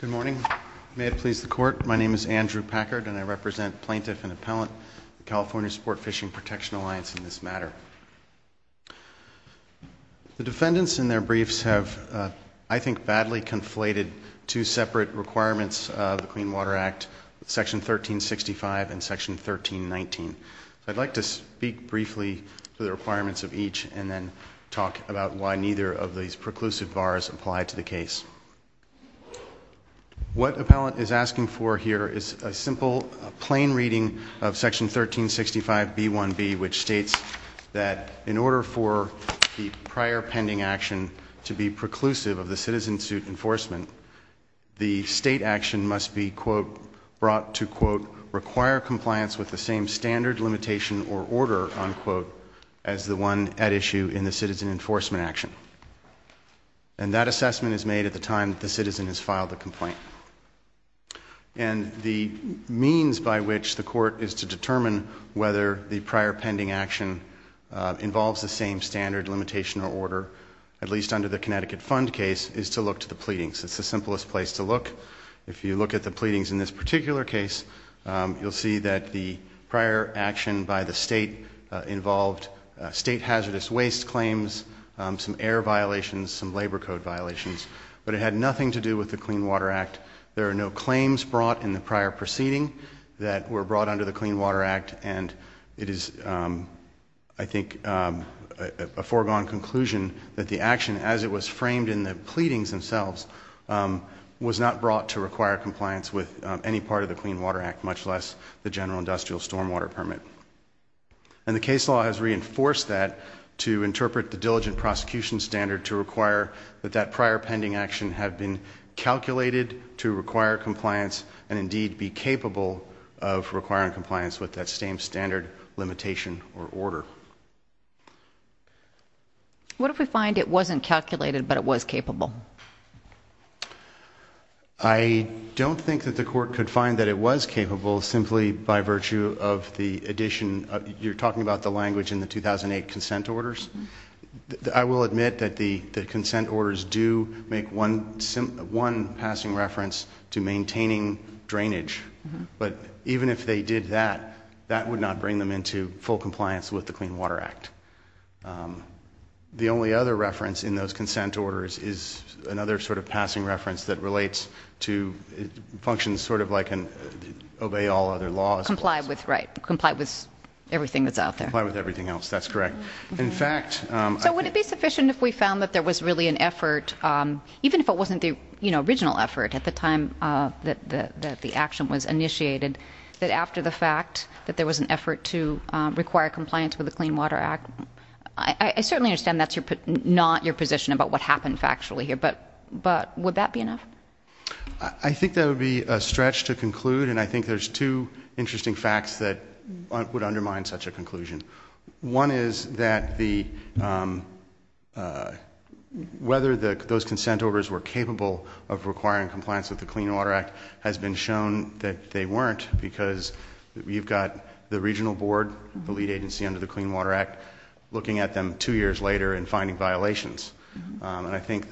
Good morning. May it please the Court, my name is Andrew Packard and I represent Plaintiff and Appellant, the California Sportfishing Protection Alliance in this matter. The defendants in their briefs have, I think, badly conflated two separate requirements of the Clean Water Act, Section 1365 and Section 1319. I'd like to speak briefly to the requirements of each and then talk about why neither of these preclusive bars apply to the case. What Appellant is asking for here is a simple, plain reading of Section 1365b1b, which states that in order for the prior pending action to be preclusive of the citizen suit enforcement, the state action must be brought to, quote, require compliance with the same standard limitation or order, unquote, as the one at issue in the citizen enforcement action. And that assessment is made at the time the citizen has filed the complaint. And the means by which the Court is to determine whether the prior pending action involves the same standard limitation or order, at least under the Connecticut Fund case, is to look to the pleadings. It's the simplest place to look. If you look at the pleadings in this particular case, you'll see that the prior action by the state involved state hazardous waste claims, some air violations, some labor code violations, but it had nothing to do with the Clean Water Act. There are no claims brought in the prior proceeding that were brought under the Clean Water Act, and it is, I think, a foregone conclusion that the action, as it was framed in the pleadings themselves, was not brought to require compliance with any part of the Clean Water Act, much less the general industrial stormwater permit. And the case law has reinforced that to interpret the diligent prosecution standard to require that that prior pending action had been calculated to require compliance and, indeed, be capable of requiring compliance with that same standard limitation or order. What if we find it wasn't calculated, but it was capable? I don't think that the Court could find that it was capable simply by virtue of the addition of, you're talking about the language in the 2008 consent orders. I will admit that the consent orders do make one passing reference to maintaining drainage, but even if they did that, that would not bring them into full compliance with the Clean Water Act. The only other reference in those consent orders is another sort of passing reference that relates to, functions sort of like obey all other laws. Comply with, right, comply with everything that's out there. Comply with everything else, that's correct. So would it be sufficient if we found that there was really an effort, even if it wasn't the original effort at the time that the action was initiated, that after the fact that there was an effort to require compliance with the Clean Water Act, I certainly understand that's not your position about what happened factually here, but would that be enough? I think that would be a stretch to conclude and I think there's two interesting facts that would undermine such a conclusion. One is that the, whether those consent orders were capable of requiring compliance with the Clean Water Act has been shown that they weren't because you've got the regional board, the lead agency under the Clean Water Act, looking at them two years later and finding violations. And I think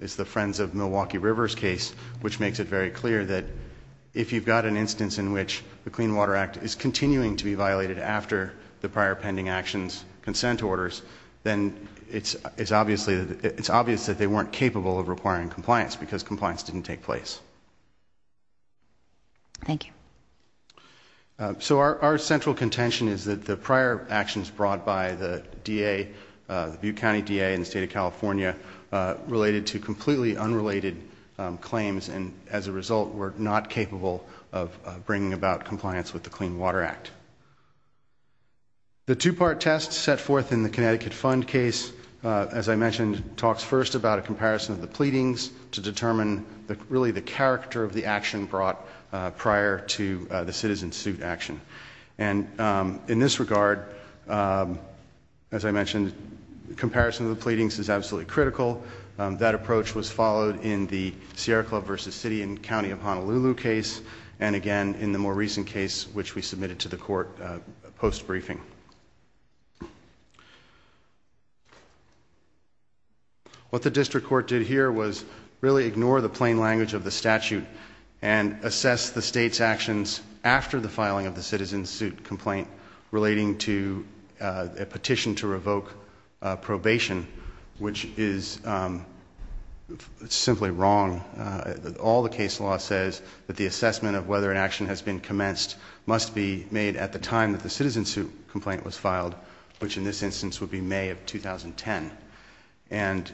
it's the Friends of Milwaukee River's case which makes it very clear that if you've got an instance in which the Clean Water Act is continuing to be violated after the prior pending actions, consent orders, then it's obvious that they weren't capable of requiring compliance because compliance didn't take place. Thank you. So our central contention is that the prior actions brought by the DA, the Butte County DA and the State of California related to completely unrelated claims and as a result were not capable of bringing about compliance with the Clean Water Act. The two-part test set forth in the Connecticut Fund case, as I mentioned, talks first about a comparison of the pleadings to determine really the character of the action brought prior to the citizen suit action. And in this regard, as I mentioned, comparison of the pleadings is absolutely critical. That approach was followed in the Sierra Club v. City and County of Honolulu case and again in the more recent case which we submitted to the court post-briefing. What the District Court did here was really ignore the plain language of the statute and assess the state's actions after the filing of the citizen suit complaint relating to a petition to revoke probation, which is simply wrong. All the case law says that the assessment of whether an action has been commenced must be made at the time that the citizen suit complaint was filed, which in this instance would be May of 2010. And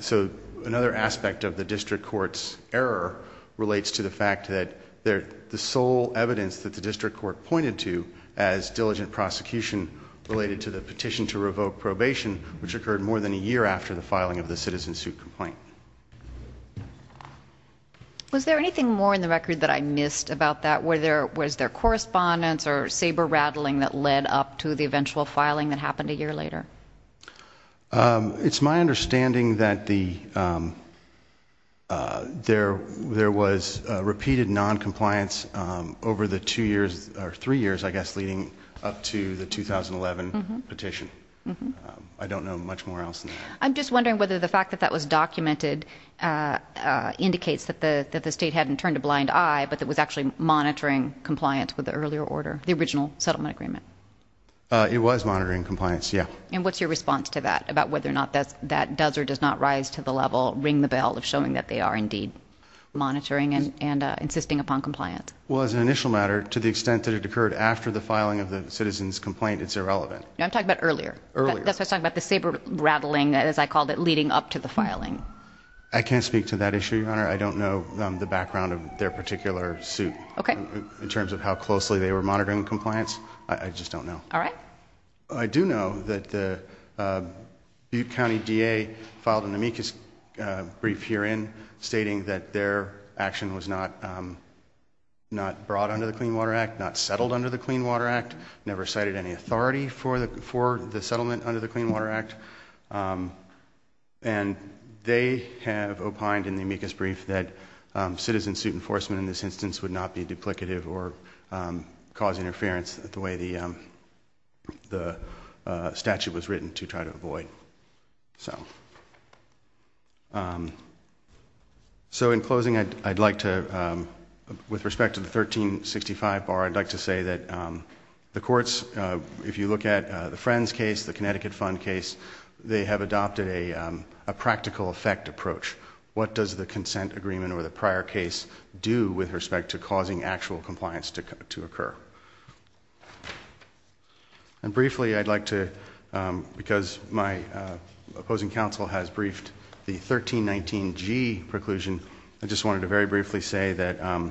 so another aspect of the District Court's error relates to the fact that the sole evidence that the District Court pointed to as diligent prosecution related to the petition to revoke probation, which occurred more than a year after the filing of the citizen suit complaint. Was there anything more in the record that I missed about that? Was there correspondence or saber-rattling that led up to the eventual filing that happened a year later? It's my understanding that there was repeated noncompliance over the three years leading up to the 2011 petition. I don't know much more else than that. I'm just wondering whether the fact that that was documented indicates that the State hadn't turned a blind eye, but that was actually monitoring compliance with the earlier order, the original settlement agreement. It was monitoring compliance, yeah. And what's your response to that, about whether or not that does or does not rise to the level, ring the bell, of showing that they are indeed monitoring and insisting upon compliance? Well, as an initial matter, to the extent that it occurred after the filing of the citizen's complaint, it's irrelevant. I'm talking about earlier. Earlier. That's what I'm talking about, the I can't speak to that issue, Your Honor. I don't know the background of their particular suit. Okay. In terms of how closely they were monitoring compliance. I just don't know. All right. I do know that the Butte County D.A. filed an amicus brief herein stating that their action was not brought under the Clean Water Act, not settled under the Clean Water Act, never cited any authority for the settlement under the Clean Water Act. And they have opined in the amicus brief that citizen suit enforcement in this instance would not be duplicative or cause interference the way the statute was written to try to avoid. So in closing, I'd like to, with respect to the Friends case, the Connecticut Fund case, they have adopted a practical effect approach. What does the consent agreement or the prior case do with respect to causing actual compliance to occur? And briefly, I'd like to, because my opposing counsel has briefed the 1319G preclusion, I just wanted to very briefly say that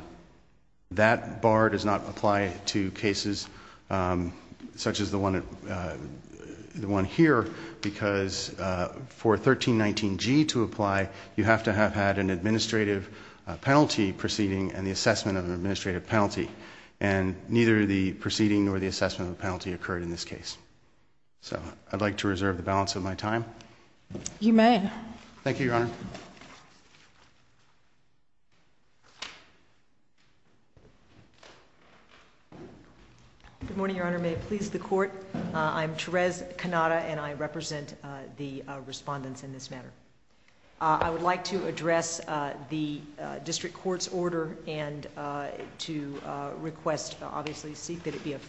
that bar does not apply to cases such as the one here, because for 1319G to apply, you have to have had an administrative penalty proceeding and the assessment of an administrative penalty. And neither the proceeding nor the assessment of the penalty occurred in this case. So I'd like to reserve the balance of my time. You may. Thank you, Your Honor. Good morning, Your Honor. May it please the Court. I'm Therese Cannata and I represent the respondents in this matter. I would like to address the District Court's order and to request, obviously, seek that it be not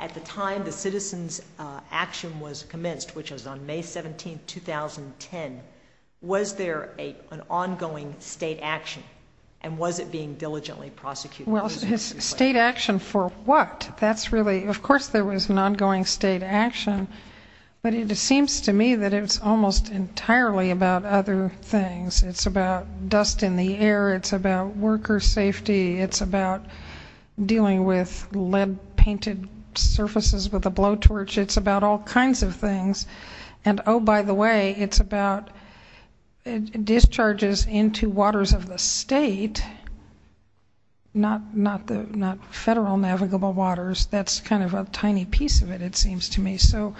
at the time the citizen's action was commenced, which was on May 17, 2010, was there an ongoing State action and was it being diligently prosecuted? State action for what? Of course there was an ongoing State action, but it seems to me that it's almost entirely about other things. It's about dust in the air, it's about dealing with lead-painted surfaces with a blowtorch, it's about all kinds of things. And oh, by the way, it's about discharges into waters of the State, not Federal navigable waters. That's kind of a tiny piece of it, it seems to me. So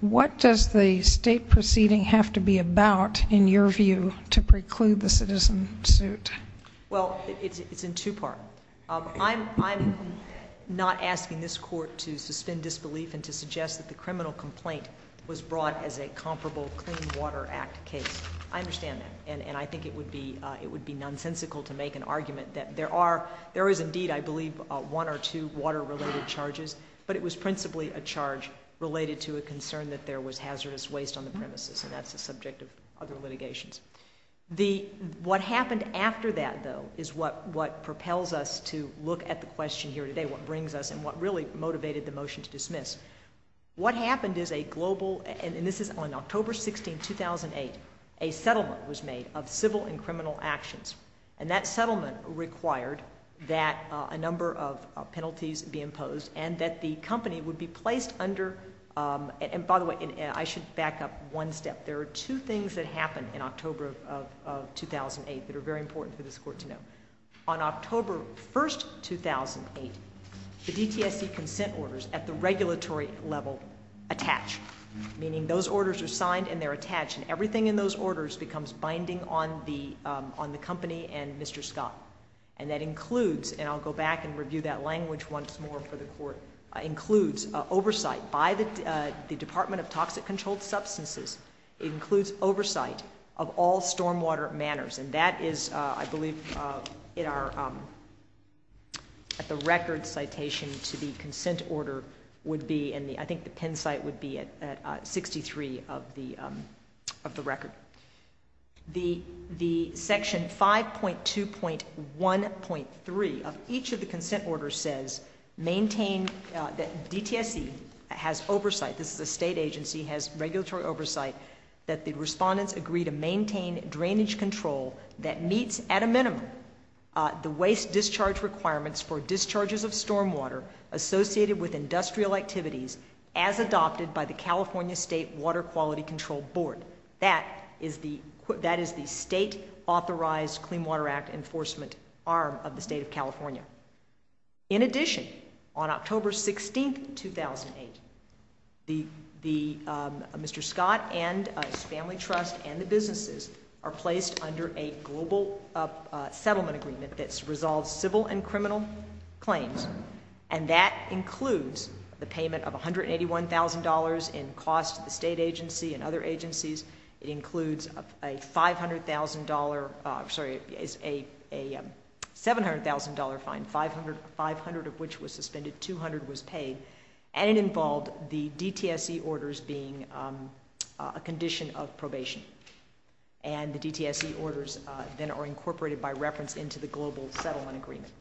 what does the State proceeding have to be about, in your view, to preclude the citizen suit? Well, it's in two parts. I'm not asking this Court to suspend disbelief and to suggest that the criminal complaint was brought as a comparable Clean Water Act case. I understand that, and I think it would be nonsensical to make an argument that there are, there is indeed, I believe, one or two water-related charges, but it was principally a charge related to a concern that there was hazardous waste on the premises, and that's a subject of other litigations. What happened after that, though, is what propels us to look at the question here today, what brings us and what really motivated the motion to dismiss. What happened is a global, and this is on October 16, 2008, a settlement was made of civil and criminal actions. And that settlement required that a number of penalties be imposed and that the company would be placed under and, by the way, I should back up one step. There are two things that happened in October of 2008 that are very important for this Court to know. On October 1, 2008, the DTSC consent orders at the regulatory level attach, meaning those orders are signed and they're attached, and everything in those orders becomes binding on the company and Mr. Scott. And that includes, and I'll go back and review that language once more for the Court, includes oversight by the Department of Toxic Controlled Substances, it includes oversight of all stormwater manners. And that is, I believe, it are at the record citation to the consent order would be, and I think the Penn 63 of the record. The section 5.2.1.3 of each of the consent orders says maintain that DTSC has oversight, this is a state agency, has regulatory oversight that the respondents agree to maintain drainage control that meets at a minimum the waste discharge requirements for discharges of stormwater associated with industrial activities as adopted by the California State Water Quality Control Board. That is the state authorized Clean Water Act enforcement arm of the State of California. In addition, on October 16, 2008, Mr. Scott and his family trust and the businesses are placed under a global settlement agreement that resolves civil and criminal claims. And that includes the payment of $181,000 in costs to the state agency and other agencies. It includes a $500,000, sorry, a $700,000 fine, 500 of which was suspended, 200 was paid. And it involved the DTSC orders being a condition of probation. And the DTSC orders then are incorporated by reference into the global settlement agreement.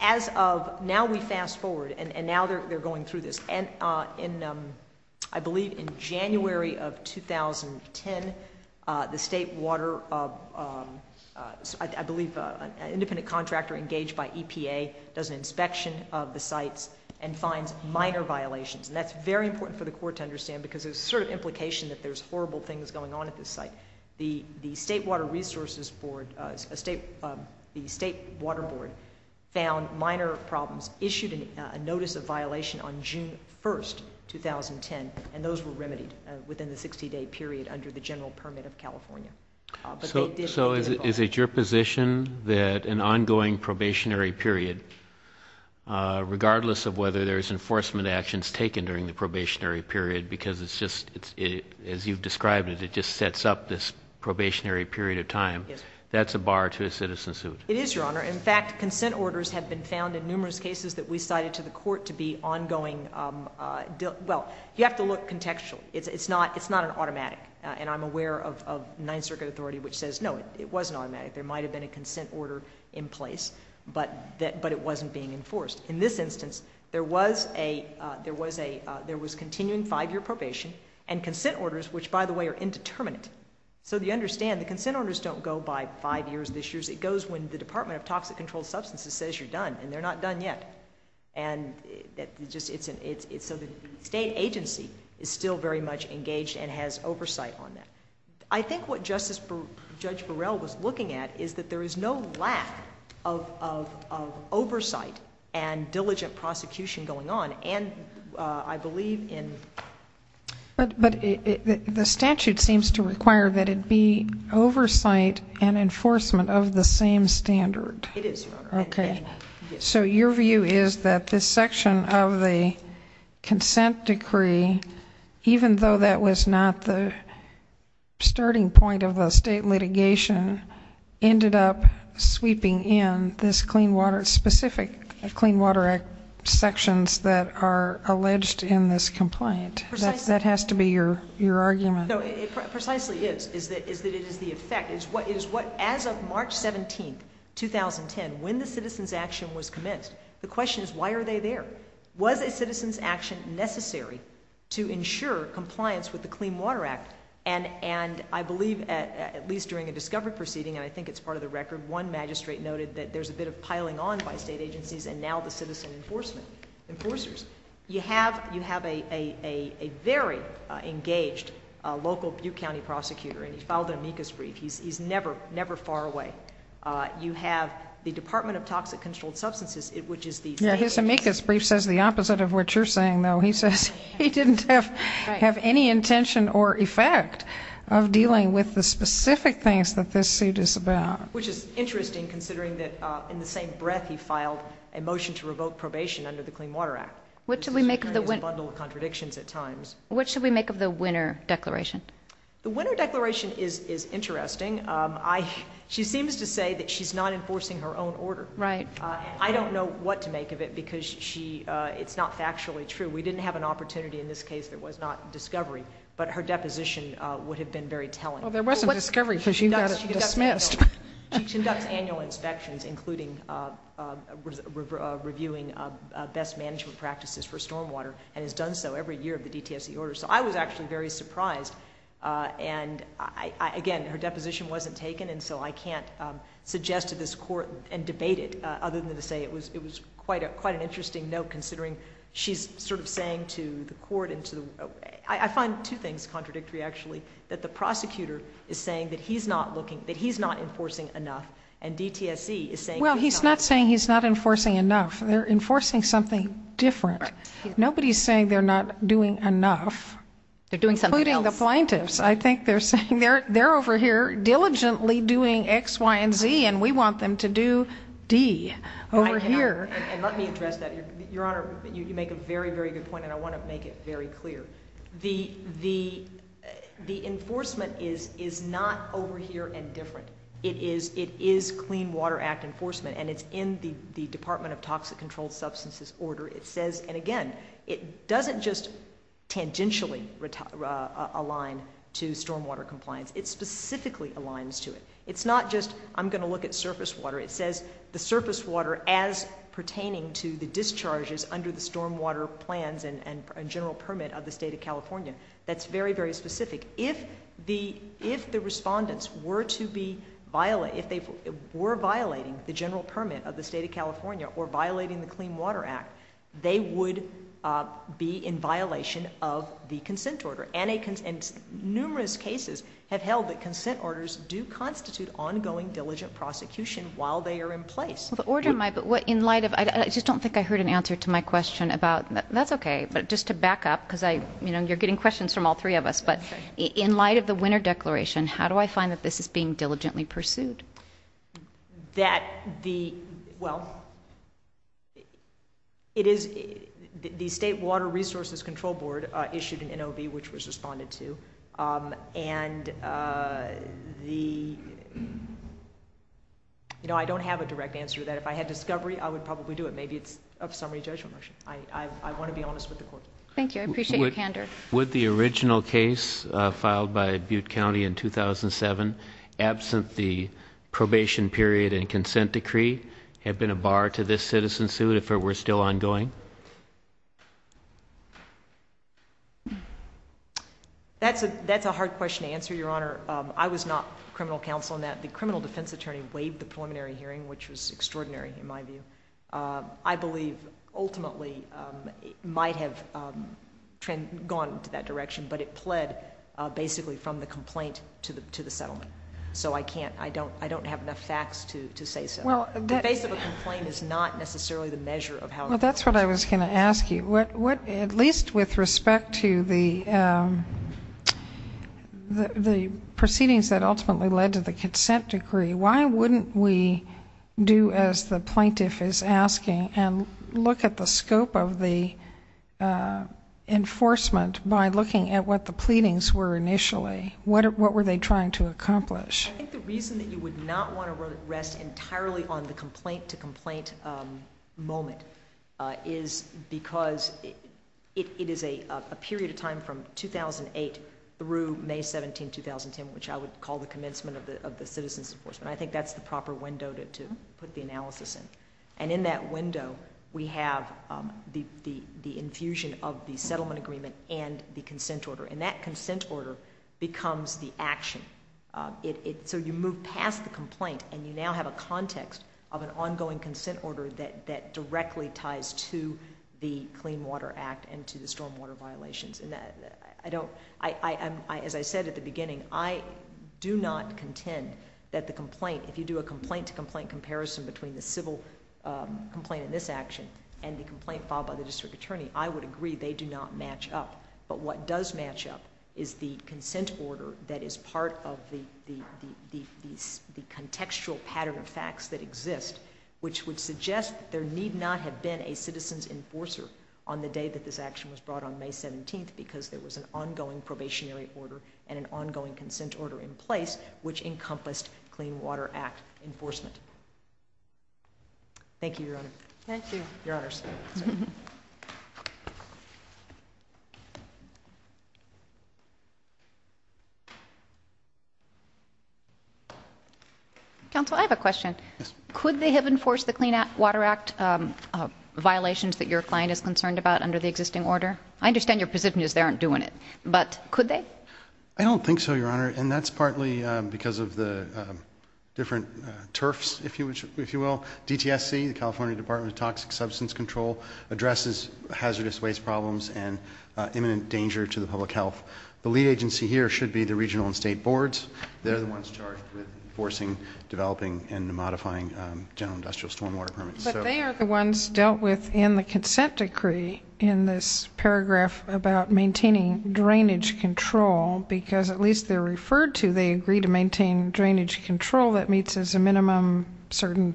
As of now we fast forward, and now they're going through this, I believe in January of 2010, the state water, I believe an independent contractor engaged by EPA does an inspection of the sites and finds minor violations. And that's very important for the court to understand because there's a certain implication that there's horrible things going on at this site. The State Water Resources Board, the State Water Board found minor problems issued a notice of violation on June 1, 2010, and those were remedied within the 60-day period under the general supervision of EPA. And that's a bar to a citizen suit. It is, Your Honor. In fact, consent orders have been found in numerous cases that we cited to the court to be ongoing... well, you have to look contextually. It's not an automatic. And I'm aware of Ninth Circuit authority which says, no, it wasn't automatic. There might have been a consent order in place, but it wasn't being enforced. In this instance, there was continuing five-year probation and consent orders, which, by the way, are indeterminate. So you understand, the consent orders don't go by five years this year. It goes when the Department of Toxic Controlled Substances says you're done, and they're not done yet. So the State agency is still very much engaged and has oversight on that. I think what Justice... Judge Burrell was looking at is that there is no lack of oversight and diligent prosecution going on. And I believe in... But the statute seems to require that it be oversight and enforcement of the same standard. It is, Your Honor. So your view is that this section of the consent decree, even though that was not the starting point of the State litigation, ended up sweeping in this Clean Water... specific Clean Water Act sections that are alleged in this complaint. That has to be your argument. No, it precisely is, is that it is the effect. It is what... As of March 17, 2010, when the citizens' action was commenced, the question is why are they there? Was a citizens' action necessary to ensure compliance with the Clean Water Act? And I believe at least during a discovery proceeding, and I think it's part of the record, one magistrate noted that there's a bit of piling on by State agencies and now the citizen enforcers. You have a very engaged local Butte County prosecutor, and he filed an amicus brief. He's never far away. You have the Department of Toxic Controlled Substances, which is the... Yeah, his amicus brief says the opposite of what you're saying, though. He says he didn't have any intention or effect of dealing with the specific things that this suit is about. Which is interesting, considering that in the same breath he filed a motion to revoke probation under the Clean Water Act. This is occurring as a bundle of contradictions at times. The Winner Declaration is interesting. She seems to say that she's not enforcing her own order. I don't know what to make of it because it's not factually true. We didn't have an opportunity in this case that was not discovery, but her deposition would have been very telling. She conducts annual inspections, including reviewing best management practices for stormwater and has done so every year of the DTSC order. I was actually very surprised. Again, her deposition wasn't taken, so I can't suggest to this Court and debate it other than to say it was quite an interesting note, considering she's sort of saying to the Court, I find two things contradictory actually. That the prosecutor is saying that he's not enforcing enough and DTSC is saying... Well, he's not saying he's not enforcing enough. They're enforcing something different. Nobody's saying they're not doing enough. They're doing something else. Including the plaintiffs. I think they're saying they're over here diligently doing X, Y, and Z and we want them to do D over here. Let me address that. Your Honor, you make a very, very good point and I want to make it very clear. The enforcement is not over here and different. It is Clean Water Act enforcement and it's in the Department of Toxic Controlled Substances order. It says, and again, it doesn't just tangentially align to stormwater compliance. It specifically aligns to it. It's not just, I'm going to look at surface water. It says the surface water as pertaining to the discharges under the stormwater plans and general permit of the State of California. That's very, very specific. If the respondents were to be violating, if they were violating the general permit of the State of California or violating the Clean Water Act, they would be in violation of the consent order. Numerous cases have held that consent orders do constitute ongoing diligent prosecution while they are in place. I just don't think I heard an answer to my question about, that's okay, but just to back up, because you're getting questions from all three of us, but in light of the winner declaration, how do I find that this is being... it is... the State Water Resources Control Board issued an NOB, which was responded to, and the... I don't have a direct answer to that. If I had discovery, I would probably do it. Maybe it's a summary judgment motion. I want to be honest with the court. Thank you. I appreciate your candor. Would the original case filed by Butte County in 2007, absent the probation period and consent decree, have been a bar to this citizen suit if it were still ongoing? That's a hard question to answer, Your Honor. I was not criminal counsel in that. The criminal defense attorney waived the preliminary hearing, which was extraordinary in my view. I believe, ultimately, it might have gone to that direction, but it pled basically from the complaint to the settlement. So I can't... I don't have enough facts to say so. The face of a complaint is not necessarily the measure of how... Well, that's what I was going to ask you. At least with respect to the proceedings that ultimately led to the consent decree, why wouldn't we do as the plaintiff is asking and look at the scope of the enforcement by looking at what the pleadings were initially? What were they trying to accomplish? I think the reason that you would not want to rest entirely on the complaint-to-complaint moment is because it is a period of time from 2008 through May 17, 2010, which I would call the commencement of the citizen's enforcement. I think that's the proper window to put the analysis in. And in that window, we have the infusion of the settlement agreement and the consent order. And that consent order becomes the action. So you move past the complaint and you now have a context of an ongoing consent order that directly ties to the Clean Water Act and to the stormwater violations. As I said at the beginning, I do not contend that the complaint... in this action and the complaint filed by the district attorney, I would agree they do not match up. But what does match up is the consent order that is part of the contextual pattern of facts that exist, which would suggest there need not have been a citizen's enforcer on the day that this action was brought on May 17 because there was an ongoing probationary order and an ongoing consent order in place, which encompassed Clean Water Act enforcement. Thank you, Your Honor. Counsel, I have a question. Could they have enforced the Clean Water Act violations that your client is concerned about under the existing order? I understand your position is they aren't doing it, but could they? I don't think so, Your Honor. And that's partly because of the different turfs, if you will. DTSC, the California Department of Toxic Substance Control, addresses hazardous waste problems and imminent danger to the public health. The lead agency here should be the regional and state boards. They're the ones charged with enforcing, developing, and modifying general industrial stormwater permits. But they are the ones dealt with in the consent decree in this paragraph about maintaining drainage control because, at least they're referred to, they agree to maintain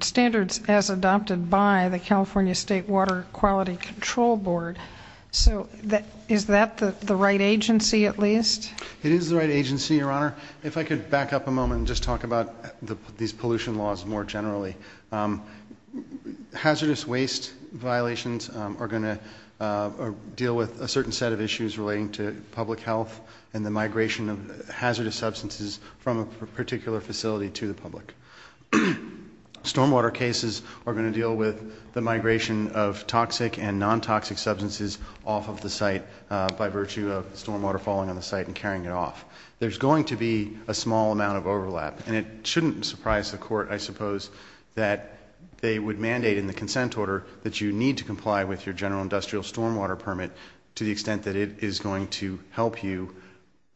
standards as adopted by the California State Water Quality Control Board. So is that the right agency at least? It is the right agency, Your Honor. If I could back up a moment and just talk about these pollution laws more generally. Hazardous waste violations are going to deal with a certain set of issues relating to public health and the migration of hazardous substances from a particular facility to the public. Stormwater cases are going to deal with the migration of toxic and non-toxic substances off of the site by virtue of stormwater falling on the site and carrying it off. There's going to be a small amount of overlap, and it shouldn't surprise the Court, I suppose, that they would mandate in the consent order that you need to comply with your general industrial stormwater permit to the extent that it is going to help you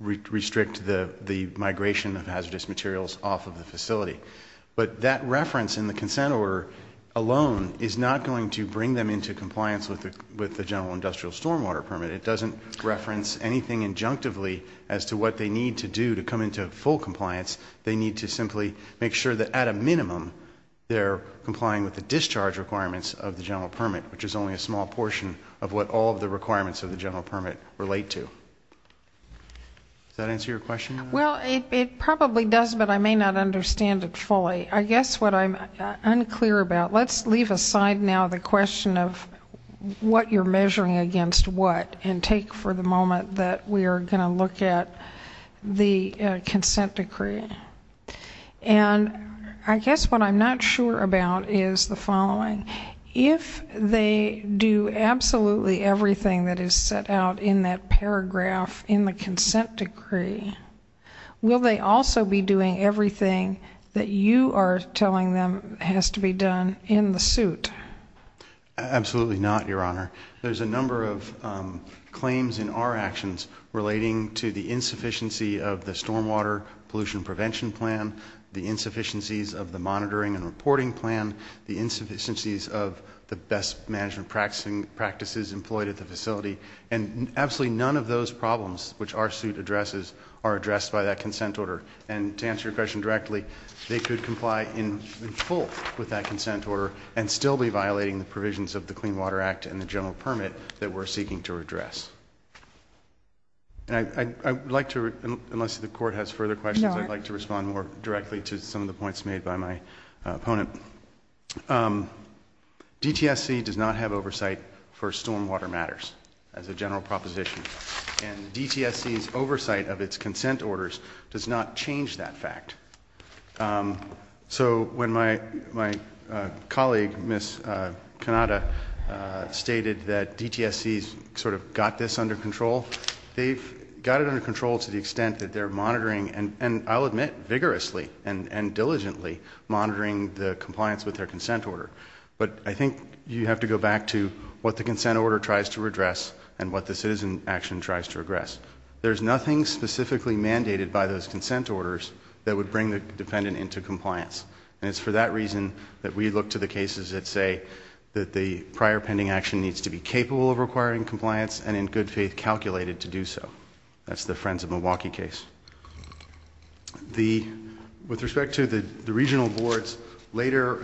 restrict the migration of hazardous materials off of the facility. But that reference in the consent order alone is not going to bring them into compliance with the general industrial stormwater permit. It doesn't reference anything injunctively as to what they need to do to come into full compliance. They need to simply make sure that at a minimum they're complying with the discharge requirements of the general permit, which is only a small portion of what all of the requirements of the general permit relate to. Does that answer your question? Well, it probably does, but I may not understand it fully. I guess what I'm unclear about, let's leave aside now the question of what you're measuring against what and take for the moment that we are going to look at the consent decree. And I guess what I'm not sure about is the following. If they do absolutely everything that is set out in that paragraph in the consent decree, will they also be doing everything that you are telling them has to be done in the suit? Absolutely not, Your Honor. There's a number of claims in our actions relating to the insufficiency of the stormwater pollution prevention plan, the insufficiencies of the monitoring and reporting plan, the insufficiencies of the best management practices employed at the facility. And absolutely none of those problems, which our suit addresses, are addressed by that consent order. And to answer your question directly, they could comply in full with that consent order and still be violating the provisions of the Clean Water Act and the general permit that we're seeking to address. Unless the Court has further questions, I'd like to respond more directly to some of the points made by my opponent. DTSC does not have oversight for stormwater matters, as a general proposition. And DTSC's oversight of its consent orders does not change that fact. So when my colleague, Ms. Cannata, stated that DTSC's sort of got this under control, they've got it under control to the extent that they're monitoring, and I'll admit, vigorously and diligently, monitoring the compliance with their consent order. But I think you have to go back to what the consent order tries to address and what the citizen action tries to address. There's nothing specifically mandated by those consent orders that would bring the defendant into compliance. And it's for that reason that we look to the cases that say that the prior pending action needs to be capable of requiring compliance and, in good faith, calculated to do so. That's the Friends of Milwaukee case. With respect to the regional board's later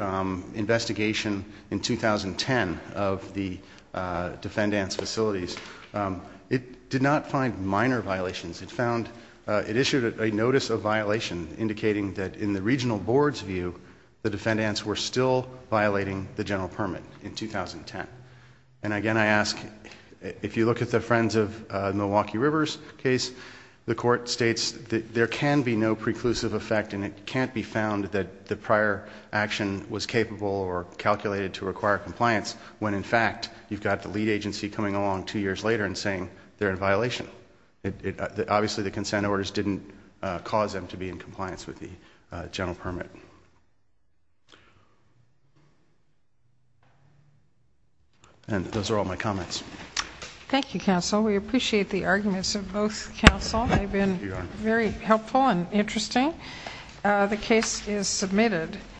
investigation in 2010 of the defendant's facilities, it did not find minor violations. It issued a notice of violation indicating that, in the regional board's view, the defendants were still violating the general permit in 2010. And, again, I ask, if you look at the Friends of Milwaukee River case, the court states that there can be no preclusive effect and it can't be found that the prior action was capable or calculated to require compliance when, in fact, you've got the lead agency coming along two years later and saying they're in violation. Obviously the consent orders didn't cause them to be in compliance with the general permit. And those are all my comments.